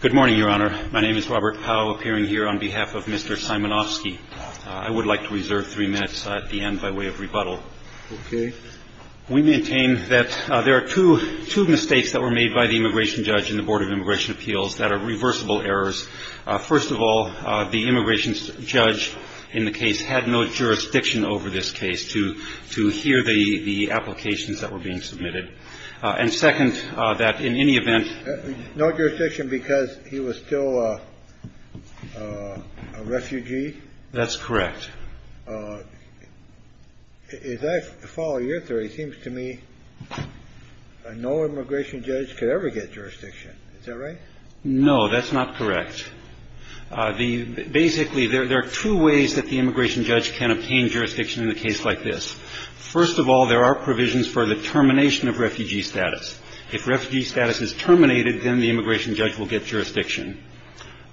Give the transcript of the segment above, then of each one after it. Good morning, Your Honor. My name is Robert Powell, appearing here on behalf of Mr. Simonovskiy. I would like to reserve three minutes at the end by way of rebuttal. We maintain that there are two mistakes that were made by the immigration judge in the Board of Immigration Appeals that are reversible errors. First of all, the immigration judge in the case had no jurisdiction over this case to hear the applications that were being submitted. And second, that in any event. No jurisdiction because he was still a refugee. That's correct. If I follow your theory, it seems to me no immigration judge could ever get jurisdiction. Is that right? No, that's not correct. Basically, there are two ways that the immigration judge can obtain jurisdiction in a case like this. First of all, there are provisions for the termination of refugee status. If refugee status is terminated, then the immigration judge will get jurisdiction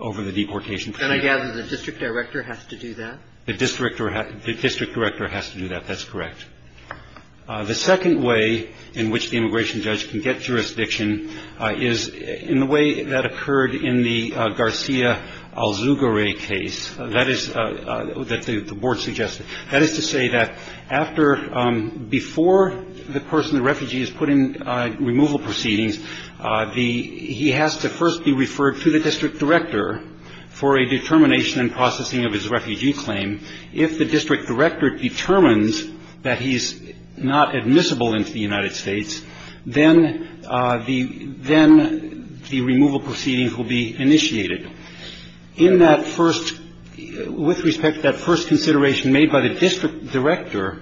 over the deportation. And I gather the district director has to do that? The district director has to do that. That's correct. The second way in which the immigration judge can get jurisdiction is in the way that occurred in the Garcia-Alzugaray case. That is that the board suggested. That is to say that after before the person, the refugee, is put in removal proceedings, he has to first be referred to the district director for a determination and processing of his refugee claim. If the district director determines that he's not admissible into the United States, then the removal proceedings will be initiated. In that first, with respect to that first consideration made by the district director,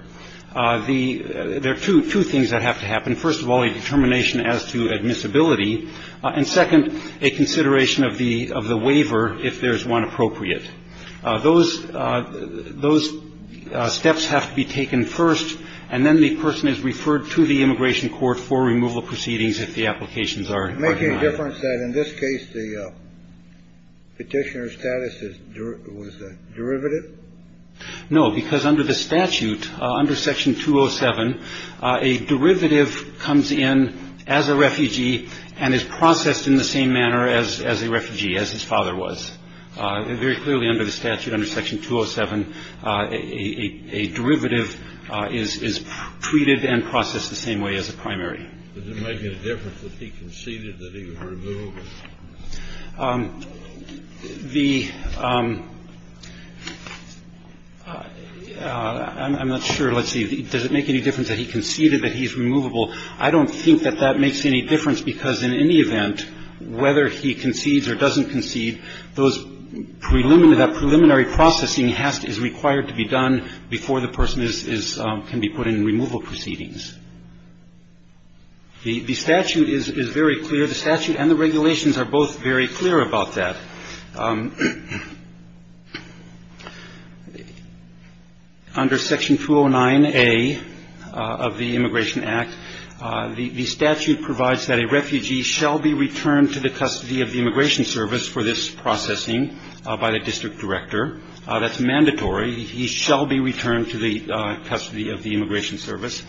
there are two things that have to happen. First of all, a determination as to admissibility. And second, a consideration of the waiver, if there is one appropriate. Those steps have to be taken first, and then the person is referred to the immigration court for removal proceedings if the applications are not. Make a difference that in this case, the petitioner status was derivative. No, because under the statute, under Section 207, a derivative comes in as a refugee and is processed in the same manner as as a refugee, as his father was very clearly under the statute. Under Section 207, a derivative is treated and processed the same way as a primary. But there might be a difference if he conceded that he was removable. The ñ I'm not sure. Let's see. Does it make any difference that he conceded that he's removable? I don't think that that makes any difference, because in any event, whether he concedes or doesn't concede, those preliminary ñ that preliminary processing has to ñ is required to be done before the person is ñ can be put in removal proceedings. The statute is very clear. The statute and the regulations are both very clear about that. Under Section 209A of the Immigration Act, the statute provides that a refugee shall be returned to the custody of the Immigration Service for this processing by the district director. That's mandatory. He shall be returned to the custody of the Immigration Service.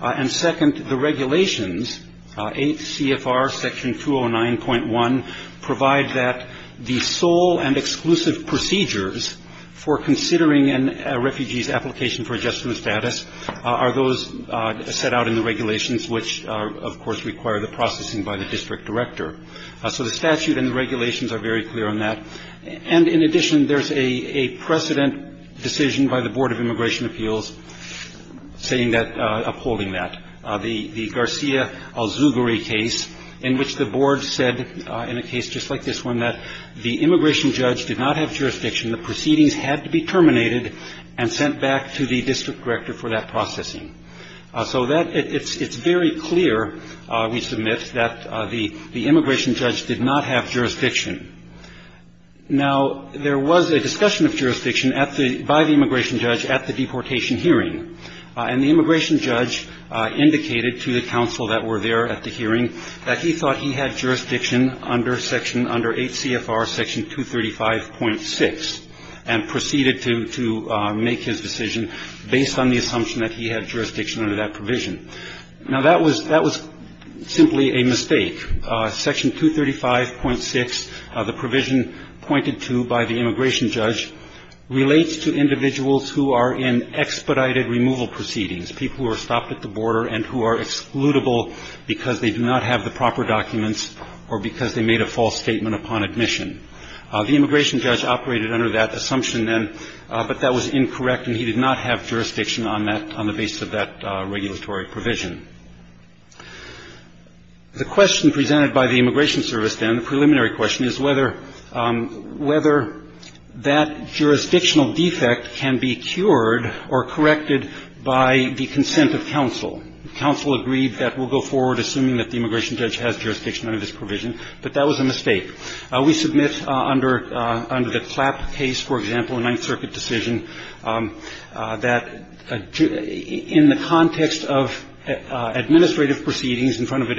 And, second, the regulations, CFR Section 209.1, provide that the sole and exclusive procedures for considering a refugee's application for adjustment of status are those set out in the regulations, which, of course, require the processing by the district director. So the statute and the regulations are very clear on that. And, in addition, there's a precedent decision by the Board of Immigration Appeals saying that ñ upholding that. The Garcia-Azuguri case in which the board said, in a case just like this one, that the immigration judge did not have jurisdiction. The proceedings had to be terminated and sent back to the district director for that processing. So that ñ it's very clear, we submit, that the immigration judge did not have jurisdiction. Now, there was a discussion of jurisdiction at the ñ by the immigration judge at the deportation hearing. And the immigration judge indicated to the counsel that were there at the hearing that he thought he had jurisdiction under Section ñ under 8 CFR Section 235.6 and proceeded to make his decision based on the assumption that he had jurisdiction under that provision. Now, that was ñ that was simply a mistake. Section 235.6, the provision pointed to by the immigration judge, relates to individuals who are in expedited removal proceedings, people who are stopped at the border and who are excludable because they do not have the proper documents or because they made a false statement upon admission. The immigration judge operated under that assumption then, but that was incorrect, and he did not have jurisdiction on that ñ on the basis of that regulatory provision. The question presented by the immigration service then, the preliminary question, is whether ñ whether that jurisdictional defect can be cured or corrected by the consent of counsel. Counsel agreed that we'll go forward assuming that the immigration judge has jurisdiction under this provision, but that was a mistake. We submit under ñ under the Clapp case, for example, a Ninth Circuit decision, that in the context of administrative proceedings in front of an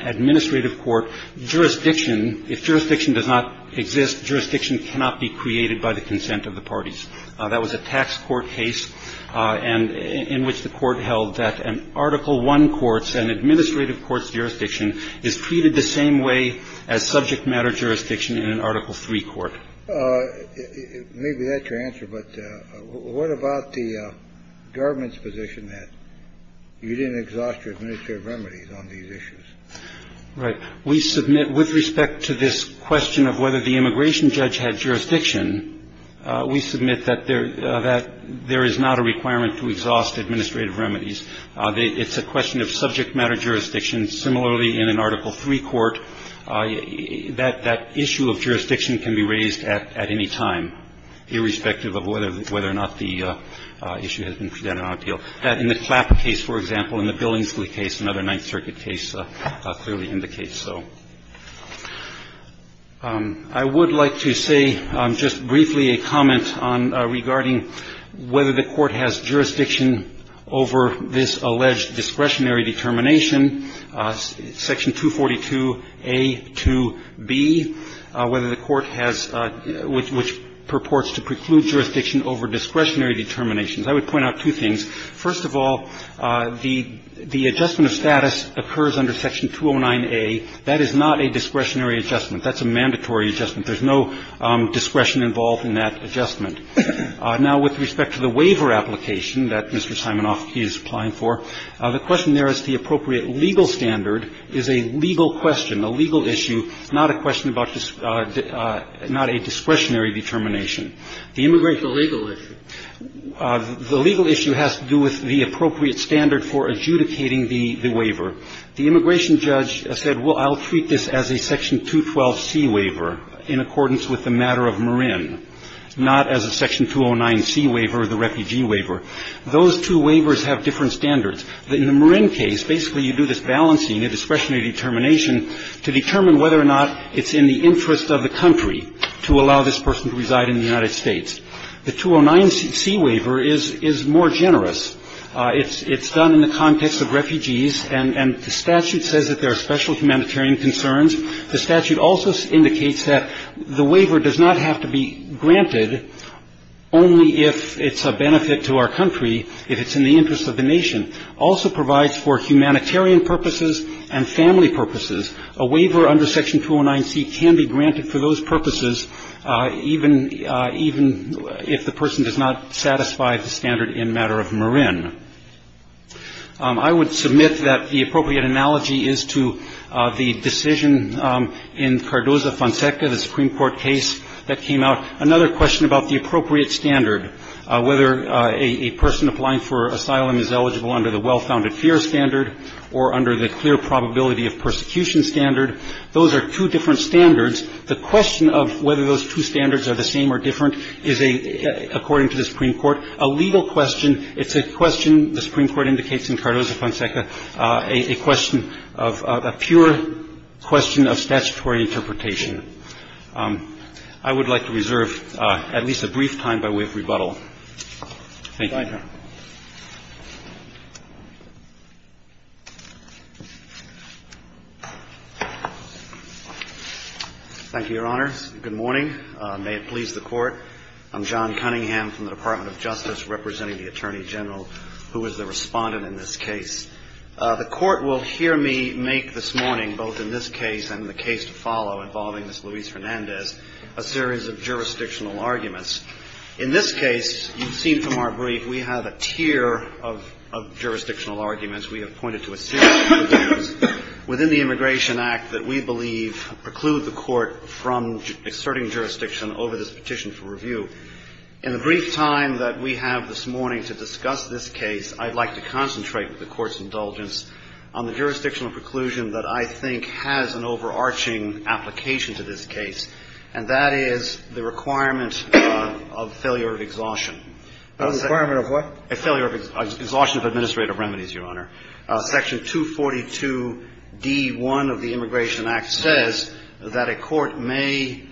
administrative court, jurisdiction ñ if jurisdiction does not exist, jurisdiction cannot be created by the consent of the parties. That was a tax court case and ñ in which the court held that an Article I courtís, an administrative courtís jurisdiction is treated the same way as subject matter jurisdiction in an Article III court. Maybe that's your answer, but what about the government's position that you didn't exhaust your administrative remedies on these issues? Right. We submit with respect to this question of whether the immigration judge had jurisdiction, we submit that there ñ that there is not a requirement to exhaust administrative remedies. It's a question of subject matter jurisdiction. Similarly, in an Article III court, that issue of jurisdiction can be raised at any time, irrespective of whether or not the issue has been presented on appeal. In the Clapp case, for example, in the Billingsley case, another Ninth Circuit case clearly indicates so. I would like to say just briefly a comment on ñ regarding whether the court has jurisdiction over this alleged discretionary determination, Section 242a to b, whether the court has ñ which purports to preclude jurisdiction over discretionary determinations. I would point out two things. First of all, the adjustment of status occurs under Section 209a. That is not a discretionary adjustment. That's a mandatory adjustment. There's no discretion involved in that adjustment. Now, with respect to the waiver application that Mr. Simonofsky is applying for, the question there is the appropriate legal standard is a legal question, a legal issue, not a question about ñ not a discretionary determination. The immigration ñ Kennedy. The legal issue. The legal issue has to do with the appropriate standard for adjudicating the waiver. The immigration judge said, well, I'll treat this as a Section 212c waiver in accordance with the matter of Marin, not as a Section 209c waiver, the refugee waiver. Those two waivers have different standards. In the Marin case, basically you do this balancing, a discretionary determination to determine whether or not it's in the interest of the country to allow this person to reside in the United States. The 209c waiver is more generous. It's done in the context of refugees, and the statute says that there are special humanitarian concerns. The statute also indicates that the waiver does not have to be granted only if it's a benefit to our country, if it's in the interest of the nation. Also provides for humanitarian purposes and family purposes. A waiver under Section 209c can be granted for those purposes, even if the person I would submit that the appropriate analogy is to the decision in Cardoza-Fonseca, the Supreme Court case that came out. Another question about the appropriate standard, whether a person applying for asylum is eligible under the well-founded fear standard or under the clear probability of persecution standard. Those are two different standards. The question of whether those two standards are the same or different is, according to the Supreme Court, a legal question. It's a question, the Supreme Court indicates in Cardoza-Fonseca, a question of a pure question of statutory interpretation. I would like to reserve at least a brief time by way of rebuttal. Thank you. Thank you, Your Honors. Good morning. May it please the Court. I'm John Cunningham from the Department of Justice, representing the Attorney General, who is the respondent in this case. The Court will hear me make this morning, both in this case and the case to follow involving Ms. Luis-Fernandez, a series of jurisdictional arguments. In this case, you've seen from our brief, we have a tier of jurisdictional arguments. We have pointed to a series of issues within the Immigration Act that we believe preclude the Court from exerting jurisdiction over this petition for review. In the brief time that we have this morning to discuss this case, I'd like to concentrate with the Court's indulgence on the jurisdictional preclusion that I think has an overarching application to this case, and that is the requirement of failure of exhaustion. A requirement of what? A failure of exhaustion of administrative remedies, Your Honor. Section 242D-1 of the Immigration Act says that a court may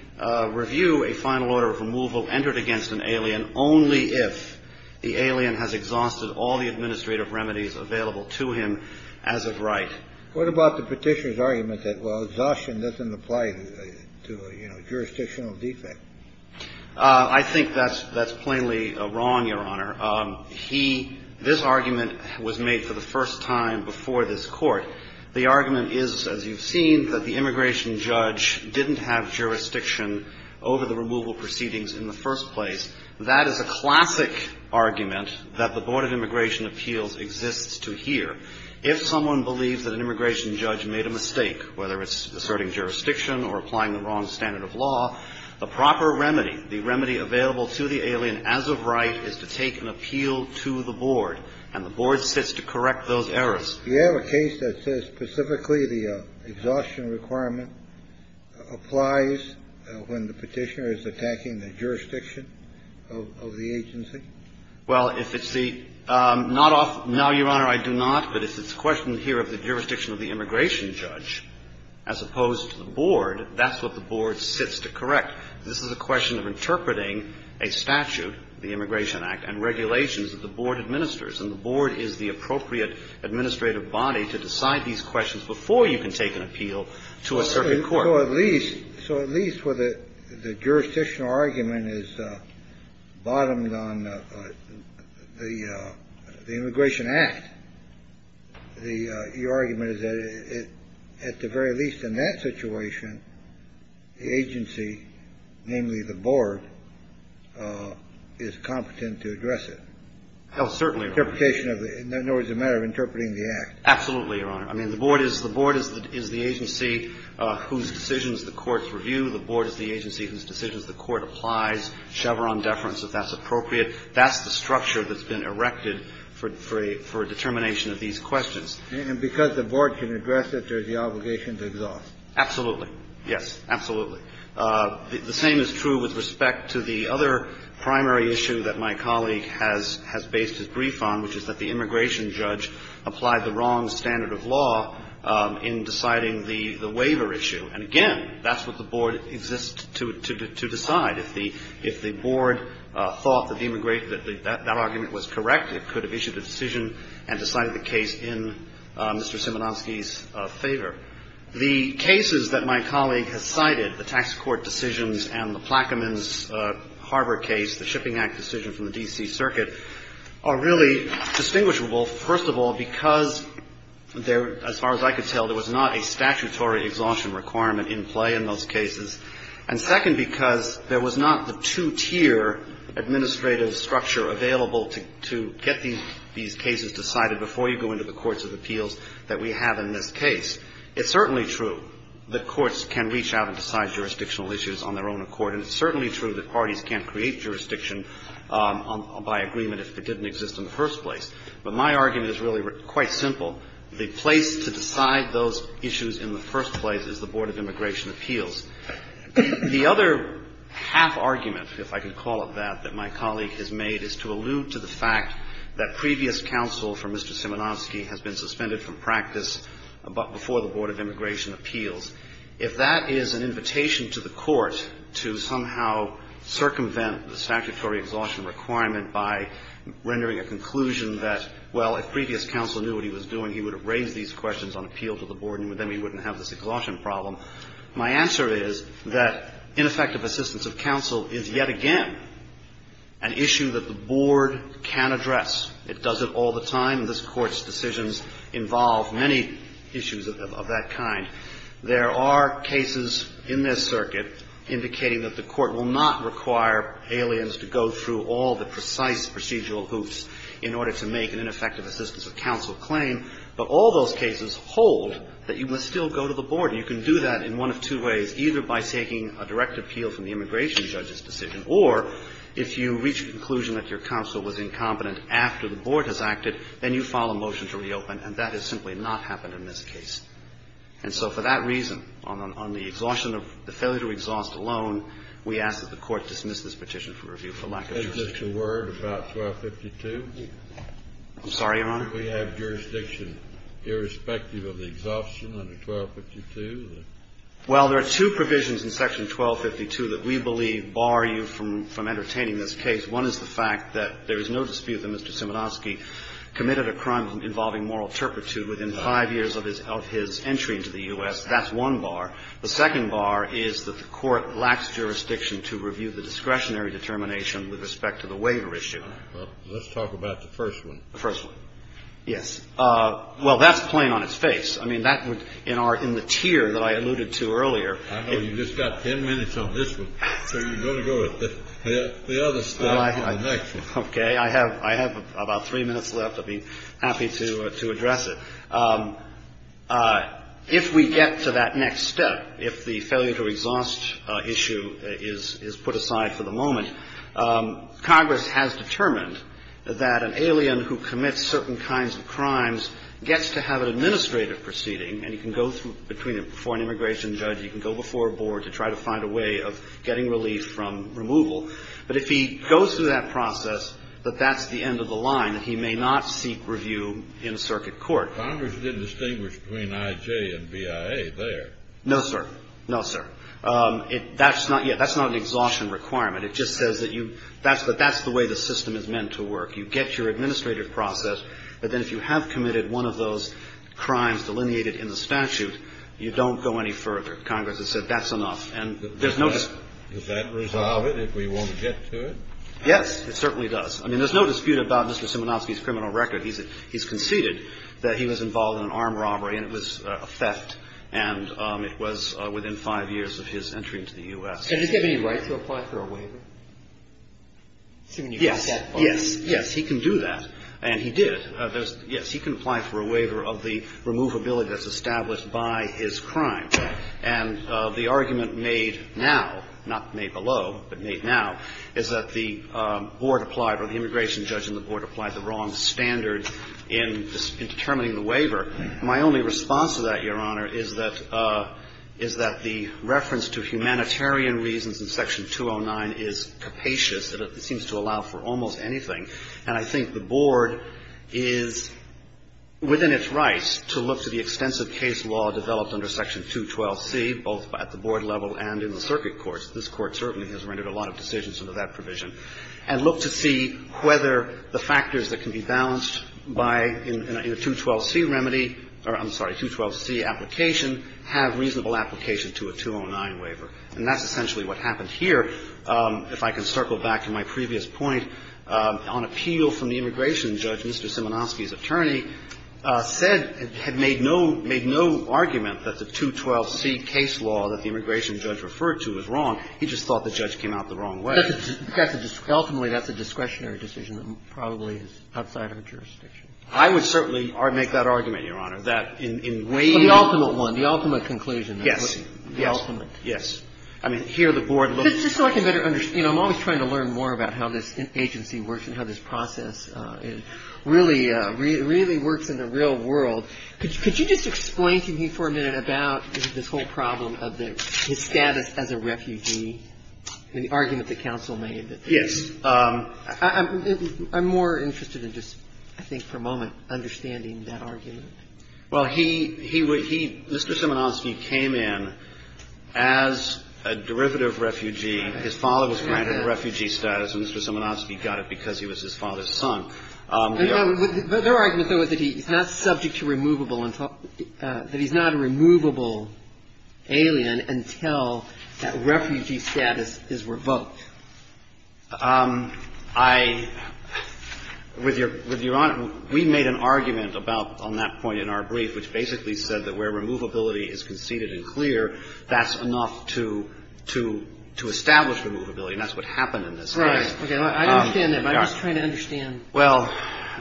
review a final order of removal entered against an alien only if the alien has exhausted all the administrative remedies available to him as of right. What about the petitioner's argument that, well, exhaustion doesn't apply to a, you know, jurisdictional defect? I think that's plainly wrong, Your Honor. He, this argument was made for the first time before this Court. The argument is, as you've seen, that the immigration judge didn't have jurisdiction over the removal proceedings in the first place. That is a classic argument that the Board of Immigration Appeals exists to hear. If someone believes that an immigration judge made a mistake, whether it's asserting jurisdiction or applying the wrong standard of law, the proper remedy, the remedy available to the alien as of right is to take an appeal to the board, and the board sits to correct those errors. Do you have a case that says specifically the exhaustion requirement applies when the petitioner is attacking the jurisdiction of the agency? Well, if it's the, not off, no, Your Honor, I do not. But if it's a question here of the jurisdiction of the immigration judge, as opposed to the board, that's what the board sits to correct. This is a question of interpreting a statute, the Immigration Act, and regulations that the board administers, and the board is the appropriate administrative body to decide these questions before you can take an appeal to a circuit court. So at least, so at least where the jurisdictional argument is bottomed on the Immigration Act, the argument is that it, at the very least in that situation, the agency namely the board is competent to address it. Oh, certainly, Your Honor. Interpretation of the, in other words, a matter of interpreting the act. Absolutely, Your Honor. I mean, the board is the agency whose decisions the courts review. The board is the agency whose decisions the court applies. Chevron deference, if that's appropriate. That's the structure that's been erected for determination of these questions. And because the board can address it, there's the obligation to exhaust. Absolutely. Yes, absolutely. The same is true with respect to the other primary issue that my colleague has based his brief on, which is that the immigration judge applied the wrong standard of law in deciding the waiver issue. And again, that's what the board exists to decide. If the board thought that the immigration, that argument was correct, it could have issued a decision and decided the case in Mr. Szymanowski's favor. The cases that my colleague has cited, the tax court decisions and the Plaquemines Harbor case, the Shipping Act decision from the D.C. Circuit, are really distinguishable, first of all, because there, as far as I could tell, there was not a statutory exhaustion requirement in play in those cases. And second, because there was not the two-tier administrative structure available to get these cases decided before you go into the courts of appeals that we have in this case. It's certainly true that courts can reach out and decide jurisdictional issues on their own accord. And it's certainly true that parties can't create jurisdiction by agreement if it didn't exist in the first place. But my argument is really quite simple. The place to decide those issues in the first place is the Board of Immigration Appeals. The other half-argument, if I can call it that, that my colleague has made is to allude to the fact that previous counsel for Mr. Szymanowski has been suspended from practice before the Board of Immigration Appeals. If that is an invitation to the Court to somehow circumvent the statutory exhaustion requirement by rendering a conclusion that, well, if previous counsel knew what he was doing, he would have raised these questions on appeal to the Board, and then he wouldn't have this exhaustion problem, my answer is that ineffective assistance of counsel is yet again an issue that the Board can address. It does it all the time. Often this Court's decisions involve many issues of that kind. There are cases in this circuit indicating that the Court will not require aliens to go through all the precise procedural hoops in order to make an ineffective assistance of counsel claim, but all those cases hold that you must still go to the Board. And you can do that in one of two ways, either by taking a direct appeal from the immigration judge's decision, or if you reach a conclusion that your counsel was incompetent after the Board has acted, then you file a motion to reopen, and that has simply not happened in this case. And so for that reason, on the exhaustion of the failure to exhaust alone, we ask that the Court dismiss this petition for review for lack of jurisdiction. Kennedy. Is this a word about 1252? Szymanowski. I'm sorry, Your Honor? Kennedy. Do we have jurisdiction irrespective of the exhaustion under 1252? Szymanowski. Well, there are two provisions in Section 1252 that we believe bar you from entertaining this case. One is the fact that there is no dispute that Mr. Szymanowski committed a crime involving moral turpitude within 5 years of his entry into the U.S. That's one bar. The second bar is that the Court lacks jurisdiction to review the discretionary determination with respect to the waiver issue. Kennedy. All right. Well, let's talk about the first one. Szymanowski. The first one. Yes. Well, that's plain on its face. I mean, that would, in the tier that I alluded to earlier ---- Kennedy. You've got 10 minutes on this one, so you're going to go to the other step on the next one. Szymanowski. Okay. I have about 3 minutes left. I'd be happy to address it. If we get to that next step, if the failure to exhaust issue is put aside for the moment, Congress has determined that an alien who commits certain kinds of crimes gets to have an administrative proceeding, and you can go between them. For an immigration judge, you can go before a board to try to find a way of getting relief from removal. But if he goes through that process, that that's the end of the line, that he may not seek review in circuit court. Kennedy. Congress didn't distinguish between I.J. and B.I.A. there. Szymanowski. No, sir. No, sir. That's not an exhaustion requirement. It just says that that's the way the system is meant to work. You get your administrative process, but then if you have committed one of those crimes delineated in the statute, you don't go any further. Congress has said that's enough, and there's no dispute. Kennedy. Does that resolve it if we want to get to it? Szymanowski. Yes, it certainly does. I mean, there's no dispute about Mr. Szymanowski's criminal record. He's conceded that he was involved in an armed robbery, and it was a theft, and it was within five years of his entry into the U.S. Kennedy. Does he have any right to apply for a waiver? Szymanowski. Yes. Yes. Yes, he can do that, and he did. Yes, he can apply for a waiver of the removability that's established by his crime. And the argument made now, not made below, but made now, is that the board applied or the immigration judge and the board applied the wrong standard in determining the waiver. My only response to that, Your Honor, is that the reference to humanitarian reasons in Section 209 is capacious, and it seems to allow for almost anything. And I think the board is within its rights to look to the extensive case law developed under Section 212C, both at the board level and in the circuit courts. This Court certainly has rendered a lot of decisions under that provision. And look to see whether the factors that can be balanced by a 212C remedy or, I'm sorry, a 212C application have reasonable application to a 209 waiver. And that's essentially what happened here. If I can circle back to my previous point, on appeal from the immigration judge, Mr. Szymanowski's attorney said, had made no, made no argument that the 212C case law that the immigration judge referred to was wrong. He just thought the judge came out the wrong way. Ultimately, that's a discretionary decision that probably is outside our jurisdiction. I would certainly make that argument, Your Honor, that in waiving the waiver. The ultimate one, the ultimate conclusion. Yes. The ultimate. Yes. I mean, here the board looks at the case. Just so I can better understand, you know, I'm always trying to learn more about how this agency works and how this process really, really works in the real world. Could you just explain to me for a minute about this whole problem of the, his status as a refugee and the argument the counsel made? Yes. I'm more interested in just, I think, for a moment, understanding that argument. Well, he, he, Mr. Szymanowski came in as a derivative refugee. His father was granted a refugee status, and Mr. Szymanowski got it because he was his father's son. Their argument, though, is that he's not subject to removable, that he's not a removable alien until that refugee status is revoked. I, with Your Honor, we made an argument about, on that point in our brief, which basically said that where removability is conceded and clear, that's enough to, to establish removability, and that's what happened in this case. Right. Okay. I understand that, but I'm just trying to understand. Well,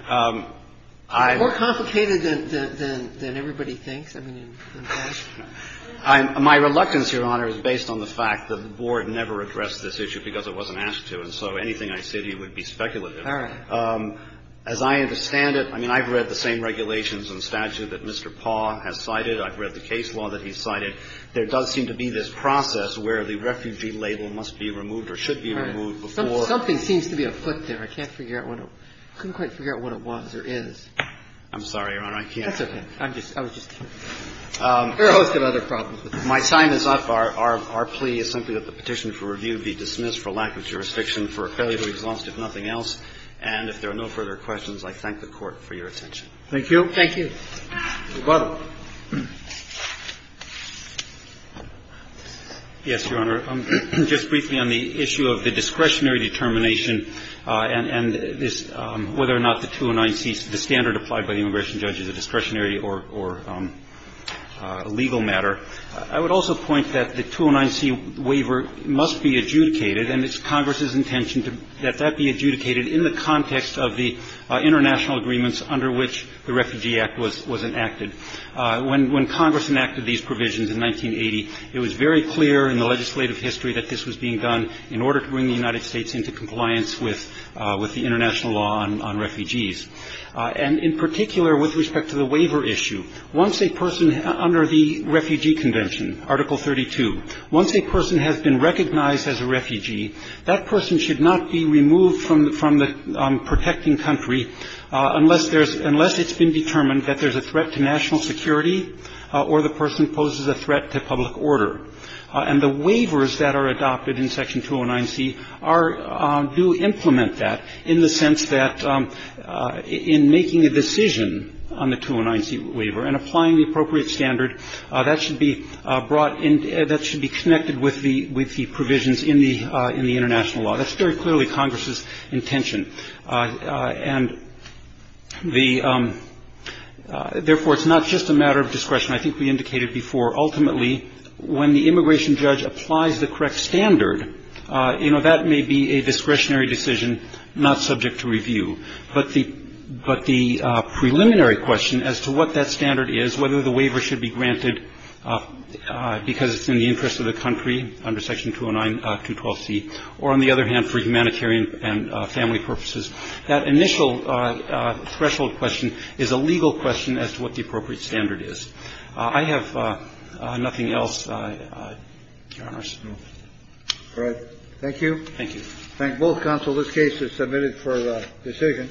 I. It's more complicated than, than, than everybody thinks. I mean, in fact. My reluctance, Your Honor, is based on the fact that the board never addressed this issue because it wasn't asked to. And so anything I said here would be speculative. All right. As I understand it, I mean, I've read the same regulations and statute that Mr. Paugh has cited. I've read the case law that he's cited. There does seem to be this process where the refugee label must be removed or should be removed before. All right. Something, something seems to be afoot there. I can't figure out what it, I couldn't quite figure out what it was or is. I'm sorry, Your Honor, I can't. That's okay. I'm just, I was just. We're always going to have other problems with this. My time is up. Our, our plea is simply that the petition for review be dismissed for lack of jurisdiction for a failure to exhaust, if nothing else. And if there are no further questions, I thank the Court for your attention. Thank you. Thank you. Mr. Butler. Yes, Your Honor. Just briefly on the issue of the discretionary determination and, and this, whether or not the 209C, the standard applied by the immigration judge is a discretionary or, or a legal matter, I would also point that the 209C waiver must be adjudicated and it's Congress's intention to, that that be adjudicated in the context of the international agreements under which the Refugee Act was, was enacted. When, when Congress enacted these provisions in 1980, it was very clear in the legislative history that this was being done in order to bring the United States into compliance with, with the international law on, on refugees. And in particular, with respect to the waiver issue, once a person under the Refugee Convention, Article 32, once a person has been recognized as a refugee, that person should not be removed from, from the protecting country unless there's, unless it's been determined that there's a threat to national security or the person poses a threat to public order. And the waivers that are adopted in Section 209C are, do implement that in the sense that in making a decision on the 209C waiver and applying the appropriate standard, that should be brought in, that should be connected with the, with the provisions in the, in the international law. That's very clearly Congress's intention. And the, therefore, it's not just a matter of discretion. I think we indicated before, ultimately, when the immigration judge applies the correct standard, you know, that may be a discretionary decision not subject to review. But the, but the preliminary question as to what that standard is, whether the waiver should be granted because it's in the interest of the country under Section 209, 212C, or on the other hand, for humanitarian and family purposes, that initial threshold question is a legal question as to what the appropriate standard is. I have nothing else, Your Honor. Alright. Thank you. Thank you. Thank you. Thank both counsels, this case is submitted for decision.